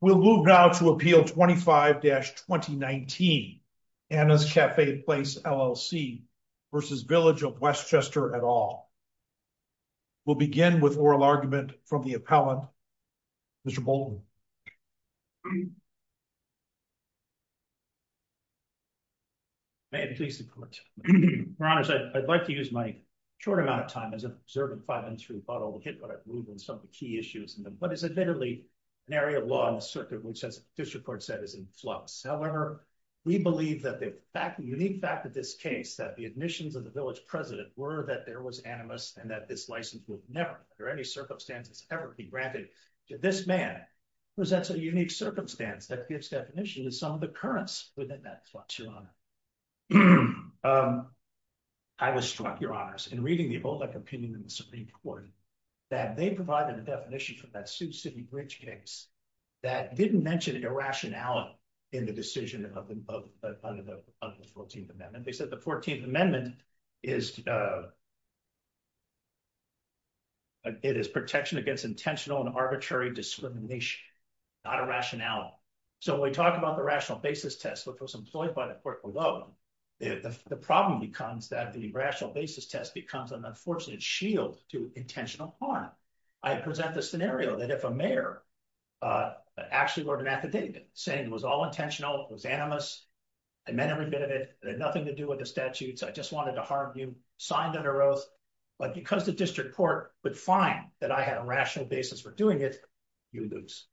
We'll move now to Appeal 25-2019, Anna's Cafe Place LLC v. Village of Westchester et al. We'll begin with oral argument from the appellant, Mr. Bolton. May I please support? Your honors, I'd like to use my short amount of time as I've observed in five minutes through the bottle to get what I've moved on some of the key issues but it's admittedly an area of law in the circuit which as district court said is in flux. However, we believe that the unique fact of this case that the admissions of the village president were that there was animus and that this license would never under any circumstances ever be granted to this man presents a unique circumstance that gives definition to some of the currents within that flux, your honor. I was struck, your honors, in reading the Olek opinion in the Supreme Court that they provided a definition for that Sioux City Bridge case that didn't mention irrationality in the decision of the 14th Amendment. They said the 14th Amendment, it is protection against intentional and arbitrary discrimination, not irrationality. So when we talk about the rational basis test which was employed by the court below, the problem becomes that the rational basis test becomes an unfortunate shield to intentional harm. I present the scenario that if a mayor actually wrote an affidavit saying it was all intentional, it was animus, I meant every bit of it, it had nothing to do with the statutes, I just wanted to harm you, signed under oath, but because the district court would find that I had a rational basis for doing it, you lose.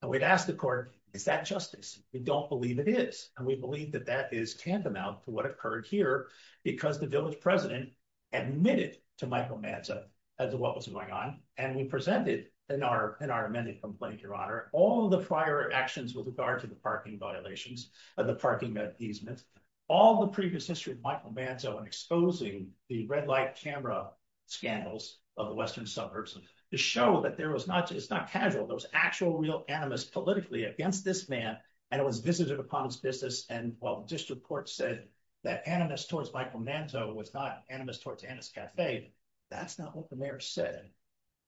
And we'd ask the court, is that justice? We don't believe it is. And we believe that that is tantamount to what occurred here because the village president admitted to Michael Manzo as to what was going on. And we presented in our amended complaint, Your Honor, all the prior actions with regard to the parking violations and the parking appeasement, all the previous history of Michael Manzo in exposing the red light camera scandals of the Western suburbs to show that there was not, it's not casual, there was actual real animus politically against this man, and it was visited upon his business. And while district court said that animus towards Michael Manzo was not animus towards Annis Cafe, that's not what the mayor said.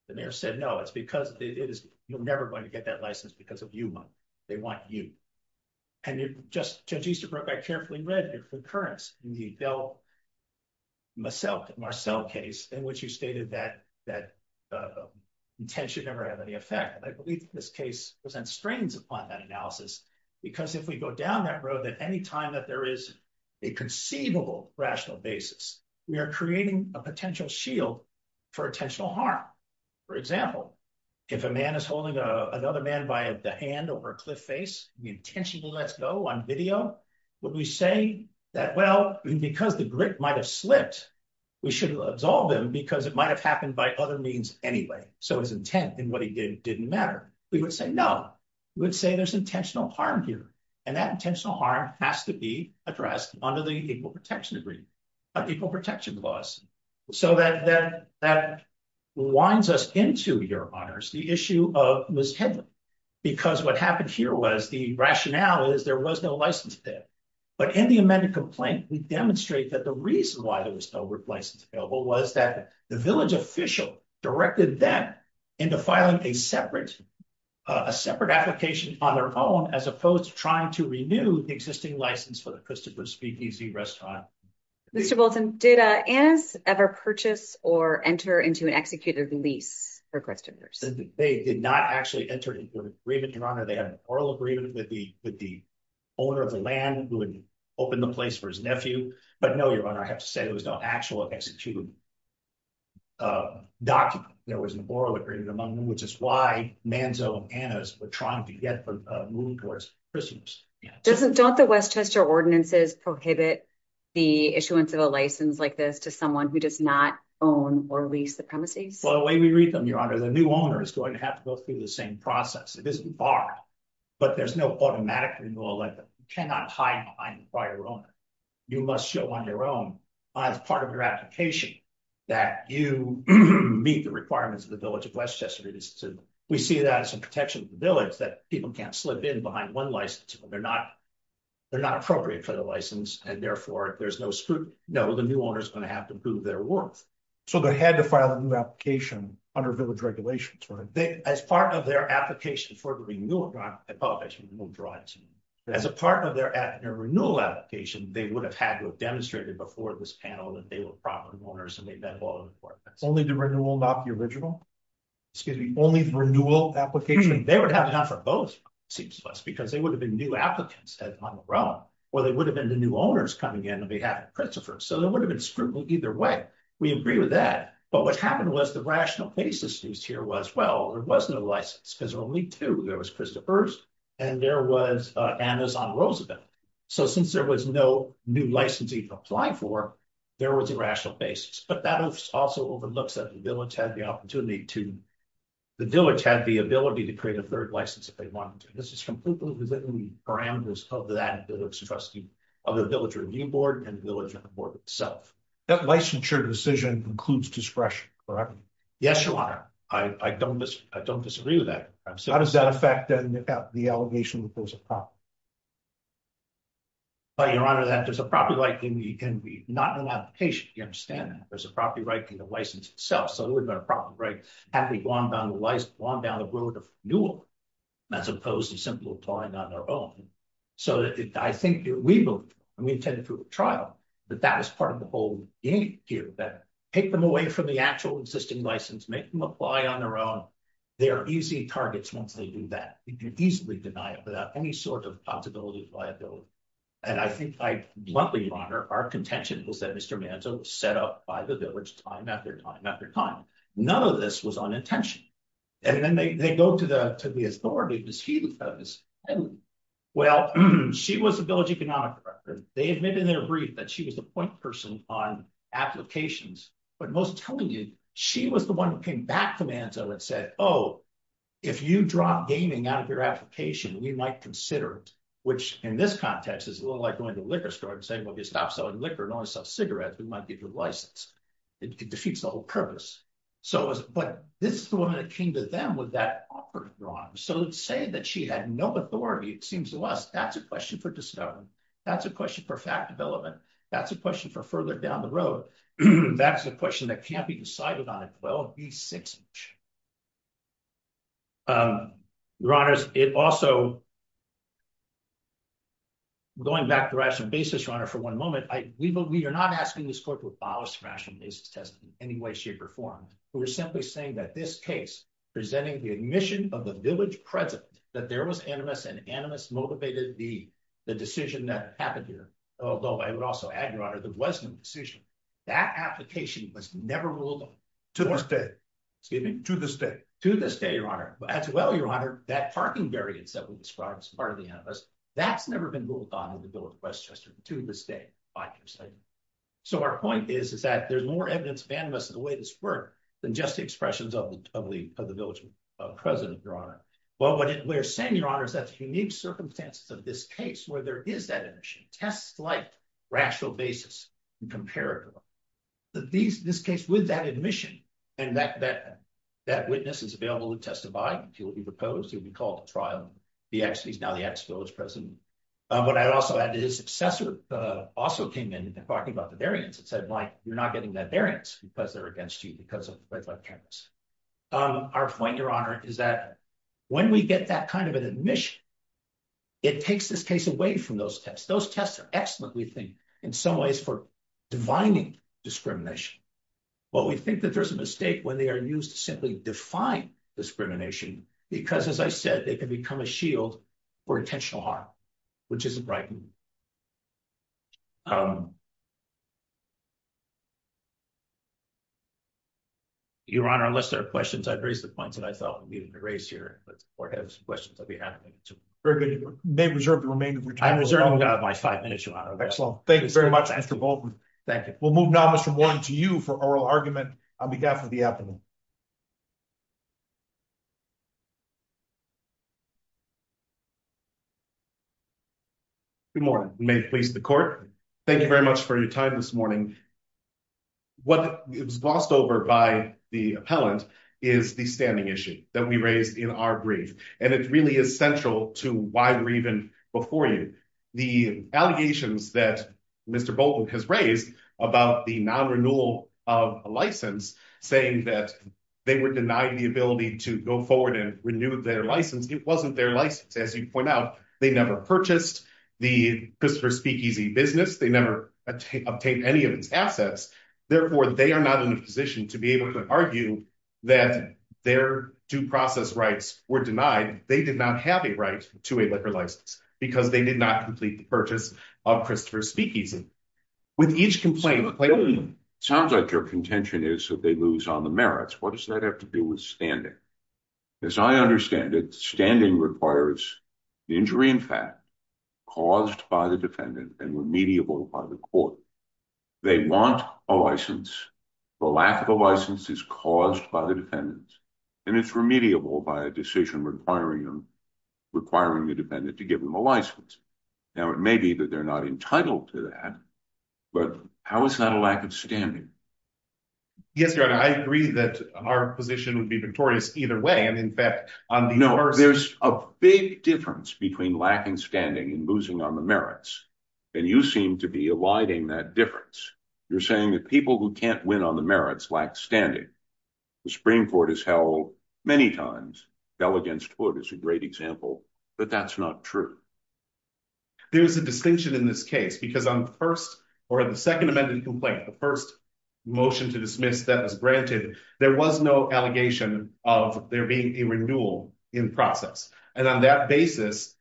The mayor said, no, it's because it is, you're never going to get that license because of you, they want you. And you just, Judge Easterbrook, I carefully read your concurrence in the Del Marcelle case in which you stated that intent should never have any effect. I believe that this case presents strains upon that analysis because if we go down that road, that any time that there is a conceivable rational basis, we are creating a potential shield for intentional harm. For example, if a man is holding another man by the hand over a cliff face, the intention to let's go on video, would we say that, well, because the grip might've slipped, we should absolve him because it might've happened by other means anyway. So his intent in what he did didn't matter. We would say, no, we would say there's intentional harm here. And that intentional harm has to be addressed under the Equal Protection Laws. So that winds us into, Your Honors, the issue of Ms. Hedlund, because what happened here was the rationale is there was no license there. But in the amended complaint, we demonstrate that the reason why there was no license available was that the village official directed them into filing a separate application on their own, as opposed to trying to renew the existing license for the Christopher's Speakeasy Restaurant. Mr. Bolton, did Annas ever purchase or enter into an executed lease for Christopher's? They did not actually enter into an agreement, Your Honor. They had an oral agreement with the owner of the land who had opened the place for his nephew. But no, Your Honor, I have to say, it was not an actual executed document. There was an oral agreement among them, which is why Manzo and Annas were trying to get a move towards Christopher's. Don't the Westchester ordinances prohibit the issuance of a license like this to someone who does not own or lease the premises? Well, the way we read them, Your Honor, the new owner is going to have to go through the same process. It isn't barred, but there's no automatic renewal. You cannot hide behind the prior owner. You must show on your own, as part of your application, that you meet the requirements of the village of Westchester. We see that as a protection of the village that people can't slip in behind one license. They're not appropriate for the license, and therefore, if there's no scrutiny, no, the new owner's going to have to prove their worth. So they had to file a new application under village regulations, right? As part of their application for renewal, not an application for a new drive-thru. As a part of their renewal application, they would have had to have demonstrated before this panel that they were property owners and they met all of the requirements. Only the renewal, not the original? Excuse me, only the renewal application? They would have to have done for both, it seems to us, because they would have been new applicants on their own, or they would have been the new owners coming in on behalf of Christopher. So there would have been scrutiny either way. We agree with that. But what happened was the rational basis used here was, well, there was no license, because there were only two. There was Christopher's and there was Anna's on Roosevelt. So since there was no new license even applied for, there was a rational basis. But that also overlooks that the village had the opportunity to, the village had the ability to create a third license if they wanted to. This is completely within the parameters of that village trustee of the village review board and the village board itself. That licensure decision includes discretion, correct? Yes, Your Honor. I don't disagree with that. How does that affect the allegation that there's a problem? Well, Your Honor, there's a property right that can be not in an application. You understand that. There's a property right in the license itself. So there would've been a problem, right? Had we gone down the road of renewal, as opposed to simply applying on our own. So I think we moved, and we attended through a trial, that that was part of the whole game here, that take them away from the actual existing license, make them apply on their own. They are easy targets once they do that. We could easily deny it without any sort of possibility of liability. And I think I, bluntly, Your Honor, our contention was that Mr. Manzo was set up by the village time, after time, after time. None of this was on intention. And then they go to the authority, Ms. Hedley. Well, she was the village economic director. They admitted in their brief that she was the point person on applications. But most tellingly, she was the one who came back to Manzo and said, oh, if you drop gaming out of your application, we might consider it. Which, in this context, is a little like going to a liquor store and saying, well, if you stop selling liquor and only sell cigarettes, we might give you a license. It defeats the whole purpose. But this is the woman that came to them with that offer, Your Honor. So to say that she had no authority, it seems to us, that's a question for discovery. That's a question for fact development. That's a question for further down the road. That's a question that can't be decided on. Well, be six inch. Your Honors, it also, going back to the rational basis, Your Honor, for one moment, we are not asking this court to abolish rational basis test in any way, shape, or form. We're simply saying that this case presenting the admission of the village president that there was animus and animus motivated the decision that happened here. Although I would also add, Your Honor, there was no decision. That application was never ruled on. To this day. Excuse me? To this day. To this day, Your Honor. As well, Your Honor, that parking variance that we described as part of the animus, that's never been ruled on in the Bill of Westchester to this day, by your side. So our point is, is that there's more evidence of animus in the way this worked than just the expressions of the village president, Well, what we're saying, Your Honor, is that the unique circumstances of this case where there is that admission, tests like rational basis and comparative. That these, this case with that admission and that witness is available to testify if he'll be proposed, he'll be called to trial. He actually is now the ex-village president. But I'd also add that his successor also came in and talking about the variance. It said like, you're not getting that variance because they're against you because of red light cameras. Our point, Your Honor, is that when we get that kind of an admission, it takes this case away from those tests. Those tests are excellent, we think, in some ways for divining discrimination. But we think that there's a mistake when they are used to simply define discrimination because as I said, they can become a shield for intentional harm, which isn't right. Um, Your Honor, unless there are questions, I'd raise the points that I thought we needed to raise here, but the court has questions on behalf of me, too. Very good, you may reserve the remainder of your time. I'm reserving my five minutes, Your Honor. Excellent, thank you very much, Mr. Bolton. Thank you. We'll move now, Mr. Warren, to you for oral argument on behalf of the applicant. Good morning. May it please the court. Thank you very much for your time this morning. What was glossed over by the appellant is the standing issue that we raised in our brief. And it really is central to why we're even before you. The allegations that Mr. Bolton has raised about the non-renewal of a license, saying that they were denying the ability to go forward and renew their license, it wasn't their license. As you point out, they never purchased. The Christopher Speakeasy business, they never obtained any of its assets. Therefore, they are not in a position to be able to argue that their due process rights were denied. They did not have a right to a liquor license because they did not complete the purchase of Christopher Speakeasy. With each complaint- So the claim sounds like your contention is that they lose on the merits. What does that have to do with standing? As I understand it, standing requires the injury in fact, caused by the defendant and remediable by the court. They want a license. The lack of a license is caused by the defendants. And it's remediable by a decision requiring them, requiring the defendant to give them a license. Now, it may be that they're not entitled to that, but how is that a lack of standing? Yes, Your Honor, I agree that our position would be victorious either way. And in fact- No, there's a big difference between lacking standing and losing on the merits. And you seem to be alighting that difference. You're saying that people who can't win on the merits lack standing. The Supreme Court has held many times, fell against hood is a great example, but that's not true. There's a distinction in this case because on the first or the second amended complaint, the first motion to dismiss that was granted, there was no allegation of there being a renewal in process. And on that basis,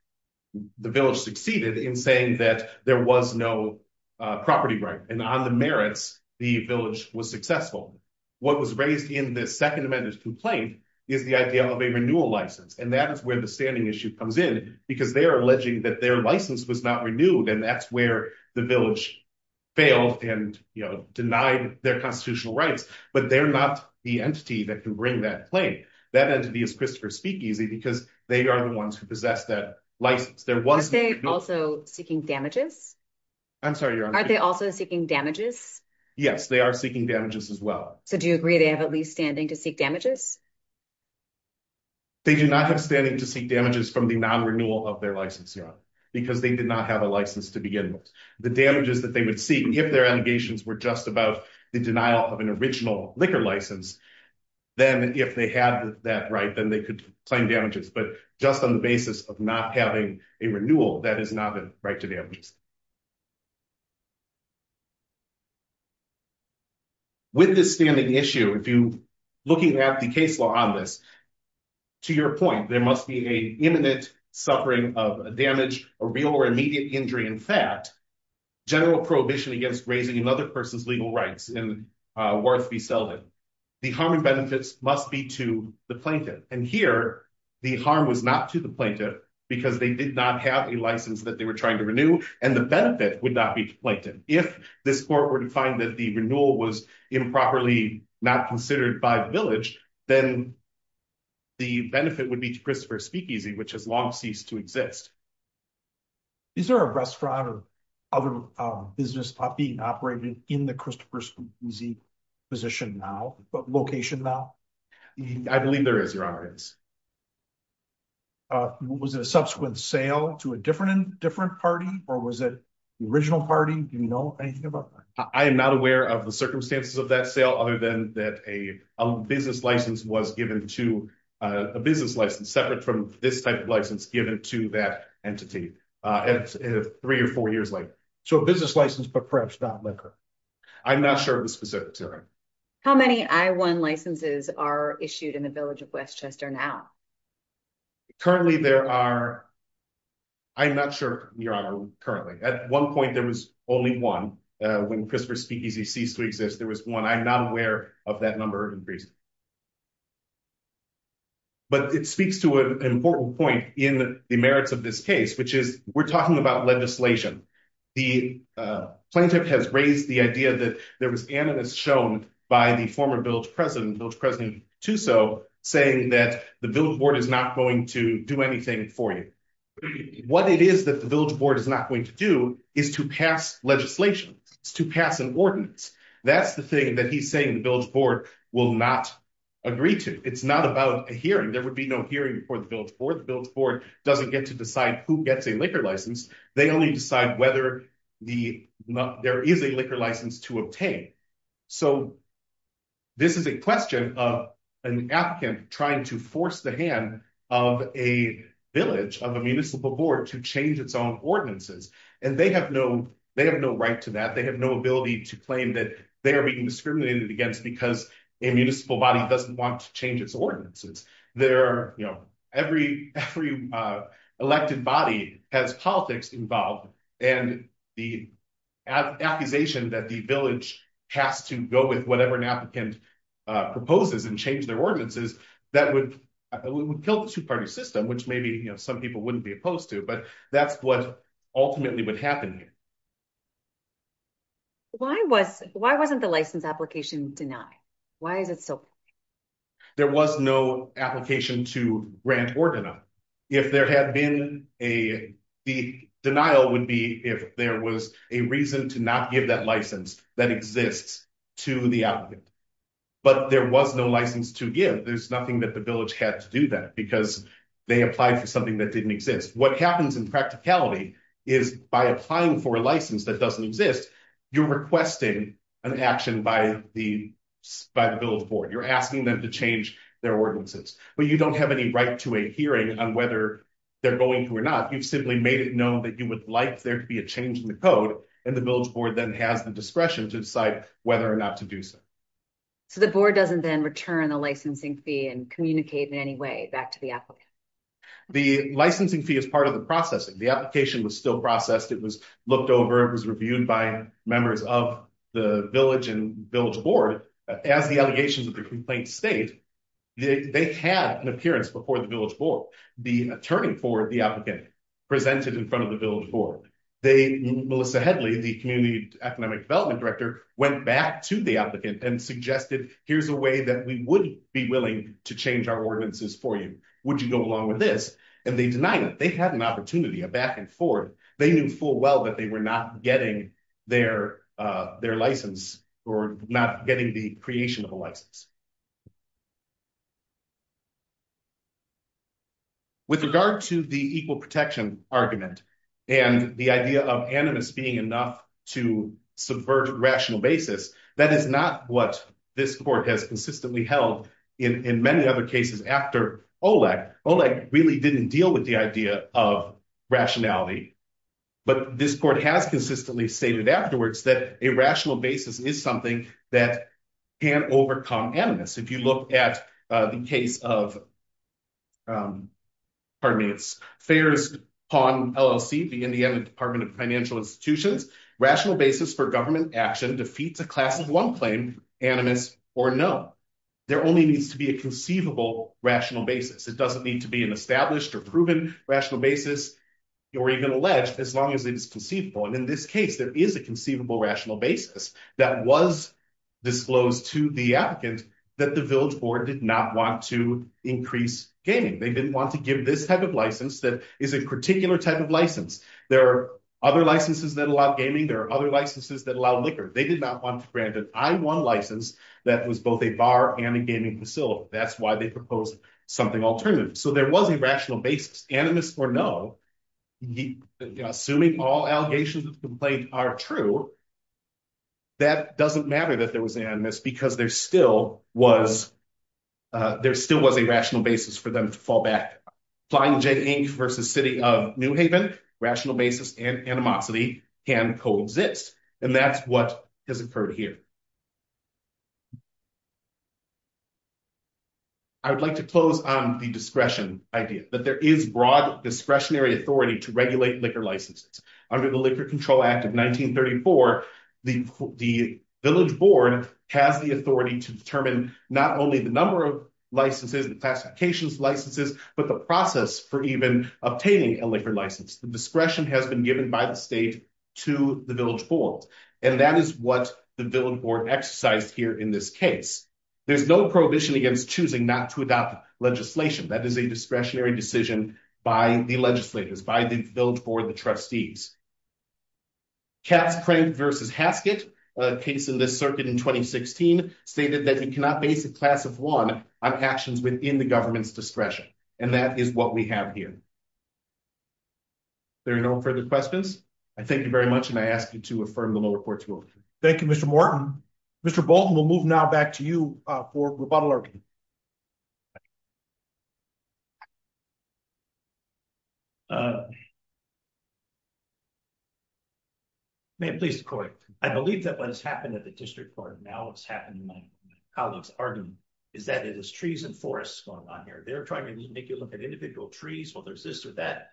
the village succeeded in saying that there was no property right. And on the merits, the village was successful. What was raised in the second amended complaint is the idea of a renewal license. And that is where the standing issue comes in because they are alleging that their license was not renewed and that's where the village failed. And denied their constitutional rights, but they're not the entity that can bring that claim. That entity is Christopher Speakeasy because they are the ones who possess that license. There was- Are they also seeking damages? I'm sorry, you're on mute. Are they also seeking damages? Yes, they are seeking damages as well. So do you agree they have at least standing to seek damages? They do not have standing to seek damages from the non-renewal of their license here because they did not have a license to begin with. The damages that they would seek, if their allegations were just about the denial of an original liquor license, then if they had that right, then they could claim damages. But just on the basis of not having a renewal, that is not the right to damages. With this standing issue, if you looking at the case law on this, to your point, there must be a imminent suffering of a damage, a real or immediate injury in fact, general prohibition against raising another person's legal rights and worth be seldom. The harm and benefits must be to the plaintiff. And here, the harm was not to the plaintiff because they did not have a license that they were trying to renew and the benefit would not be to plaintiff. If this court were to find that the renewal was improperly not considered by the village, then the benefit would be to Christopher Speakeasy, which has long ceased to exist. Is there a restaurant or other business being operated in the Christopher Speakeasy position now, but location now? I believe there is, Your Honor, it is. Was it a subsequent sale to a different party or was it the original party? Do you know anything about that? I am not aware of the circumstances of that sale other than that a business license was given to a business license separate from this type of license given to that entity three or four years later. So a business license, but perhaps not liquor? I'm not sure of the specifics, Your Honor. How many I-1 licenses are issued in the village of Westchester now? Currently there are, I'm not sure, Your Honor, currently. At one point there was only one. When Christopher Speakeasy ceased to exist, there was one. I'm not aware of that number of increase. But it speaks to an important point in the merits of this case, which is we're talking about legislation. The plaintiff has raised the idea that there was animus shown by the former village president, village president Tussauds, saying that the village board is not going to do anything for you. What it is that the village board is not going to do is to pass legislation, to pass an ordinance. That's the thing that he's saying the village board will not do. The village board will not agree to. It's not about a hearing. There would be no hearing before the village board. The village board doesn't get to decide who gets a liquor license. They only decide whether there is a liquor license to obtain. So this is a question of an applicant trying to force the hand of a village, of a municipal board, to change its own ordinances. And they have no right to that. They have no ability to claim that they are being discriminated against because a municipal body doesn't want to change its ordinances. Every elected body has politics involved. And the accusation that the village has to go with whatever an applicant proposes and change their ordinances, that would kill the two-party system, which maybe some people wouldn't be opposed to. But that's what ultimately would happen here. Why wasn't the license application denied? Why is it still? There was no application to grant ordina. If there had been a, the denial would be if there was a reason to not give that license that exists to the applicant. But there was no license to give. There's nothing that the village had to do that because they applied for something that didn't exist. What happens in practicality is by applying for a license that doesn't exist, you're requesting an action by the village board. You're asking them to change their ordinances. But you don't have any right to a hearing on whether they're going to or not. You've simply made it known that you would like there to be a change in the code. And the village board then has the discretion to decide whether or not to do so. So the board doesn't then return the licensing fee and communicate in any way back to the applicant? The licensing fee is part of the processing. The application was still processed. It was looked over. It was reviewed by members of the village and village board. As the allegations of the complaint state, they had an appearance before the village board. The attorney for the applicant presented in front of the village board. Melissa Headley, the community economic development director went back to the applicant and suggested, here's a way that we would be willing to change our ordinances for you. Would you go along with this? And they denied it. They had an opportunity, a back and forth. They knew full well that they were not getting their license or not getting the creation of a license. With regard to the equal protection argument and the idea of animus being enough to subvert rational basis, that is not what this court has consistently held in many other cases after OLEG. OLEG really didn't deal with the idea of rationality, but this court has consistently stated afterwards that a rational basis is something that can overcome animus. If you look at the case of, pardon me, it's Fares Pond LLC, the Indiana Department of Financial Institutions, rational basis for government action defeats a class of one claim, animus or no. There only needs to be a conceivable rational basis. It doesn't need to be an established or proven rational basis or even alleged as long as it is conceivable. And in this case, there is a conceivable rational basis that was disclosed to the applicant that the village board did not want to increase gaming. They didn't want to give this type of license that is a particular type of license. There are other licenses that allow gaming. There are other licenses that allow liquor. They did not want to grant an I-1 license that was both a bar and a gaming facility. That's why they proposed something alternative. So there was a rational basis, animus or no. Assuming all allegations of complaint are true, that doesn't matter that there was animus because there still was a rational basis for them to fall back. Flying J. Inc. versus City of New Haven, rational basis and animosity can coexist. And that's what has occurred here. I would like to close on the discretion idea that there is broad discretionary authority to regulate liquor licenses. Under the Liquor Control Act of 1934, the village board has the authority to determine not only the number of licenses and classifications licenses, but the process for even obtaining a liquor license. The discretion has been given by the state to the village board. And that is what the village board exercised here in this case. There's no prohibition against choosing not to adopt legislation. That is a discretionary decision by the legislators, by the village board, the trustees. Cass Crank versus Haskett, a case in the circuit in 2016, stated that you cannot base a class of one on actions within the government's discretion. And that is what we have here. There are no further questions. I thank you very much. And I ask you to affirm the lower court's ruling. Thank you, Mr. Morton. Mr. Bolton, we'll move now back to you for Roboto-Larkin. May I please correct? I believe that what has happened at the district court and now what's happened in my colleague's argument is that it is trees and forests going on here. They're trying to make you look at individual trees. Well, there's this or that.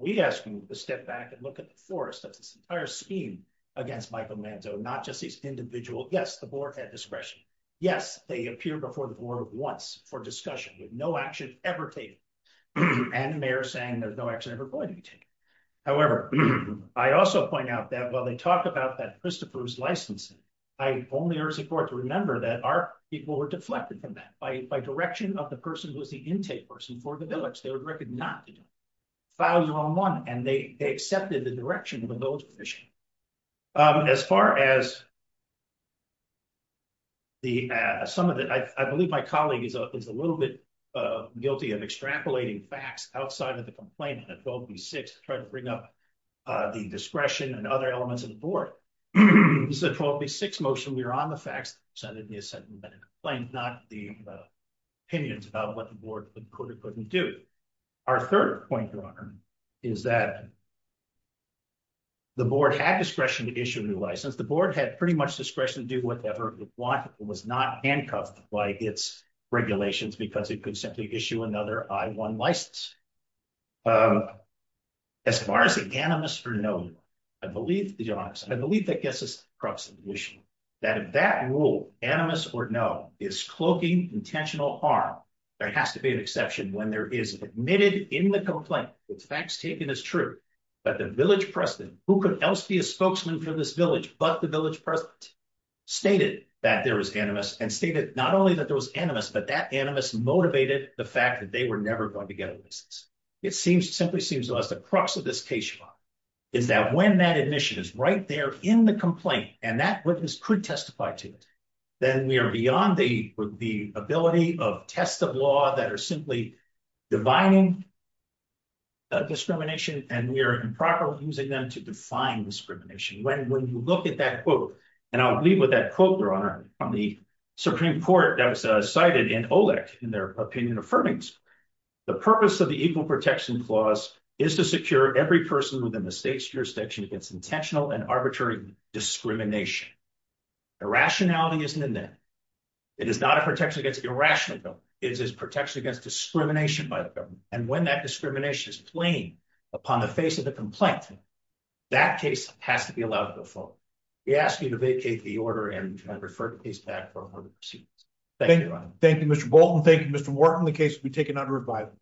We ask you to step back and look at the forest of this entire scheme against Michael Lanzo, not just these individual. Yes, the board had discretion. Yes, they appear before the board once for discussion with no action ever taken. And the mayor is saying there's no action ever going to be taken. However, I also point out that while they talk about that Christopher's licensing, I only urge the court to remember that our people were deflected from that by direction of the person who was the intake person for the village. They were directed not to do it. File your own one. And they accepted the direction of the village commission. As far as some of it, I believe my colleague is a little bit guilty of extrapolating facts outside of the complaint at 12B6, trying to bring up the discretion and other elements of the board. This is a 12B6 motion. We are on the facts. Senator Nielsen complained not the opinions about what the board could or couldn't do. Our third point, Your Honor, is that the board had discretion to issue a new license. The board had pretty much discretion to do whatever it want. It was not handcuffed by its regulations because it could simply issue another I-1 license. As far as anonymous or no, I believe, Your Honor, I believe that gets us across the issue. That if that rule, anonymous or no, is cloaking intentional harm, there has to be an exception when there is admitted in the complaint that the facts taken is true, but the village president, who could else be a spokesman for this village, but the village president, stated that there was animus and stated not only that there was animus, but that animus motivated the fact that they were never going to get a license. It simply seems to us the crux of this case, Your Honor, is that when that admission is right there in the complaint and that witness could testify to it, then we are beyond the ability of tests of law that are simply divining discrimination and we are improperly using them to define discrimination. When you look at that quote, and I'll leave with that quote, Your Honor, on the Supreme Court that was cited in OLEC in their opinion affirmings, the purpose of the Equal Protection Clause is to secure every person within the state's jurisdiction against intentional and arbitrary discrimination. Irrationality isn't in there. It is not a protection against irrational, it is protection against discrimination by the government. And when that discrimination is plain upon the face of the complaint, that case has to be allowed to go forward. We ask you to vacate the order and refer the case back for further proceedings. Thank you, Your Honor. Thank you, Mr. Bolton. Thank you, Mr. Wharton. The case will be taken under revival.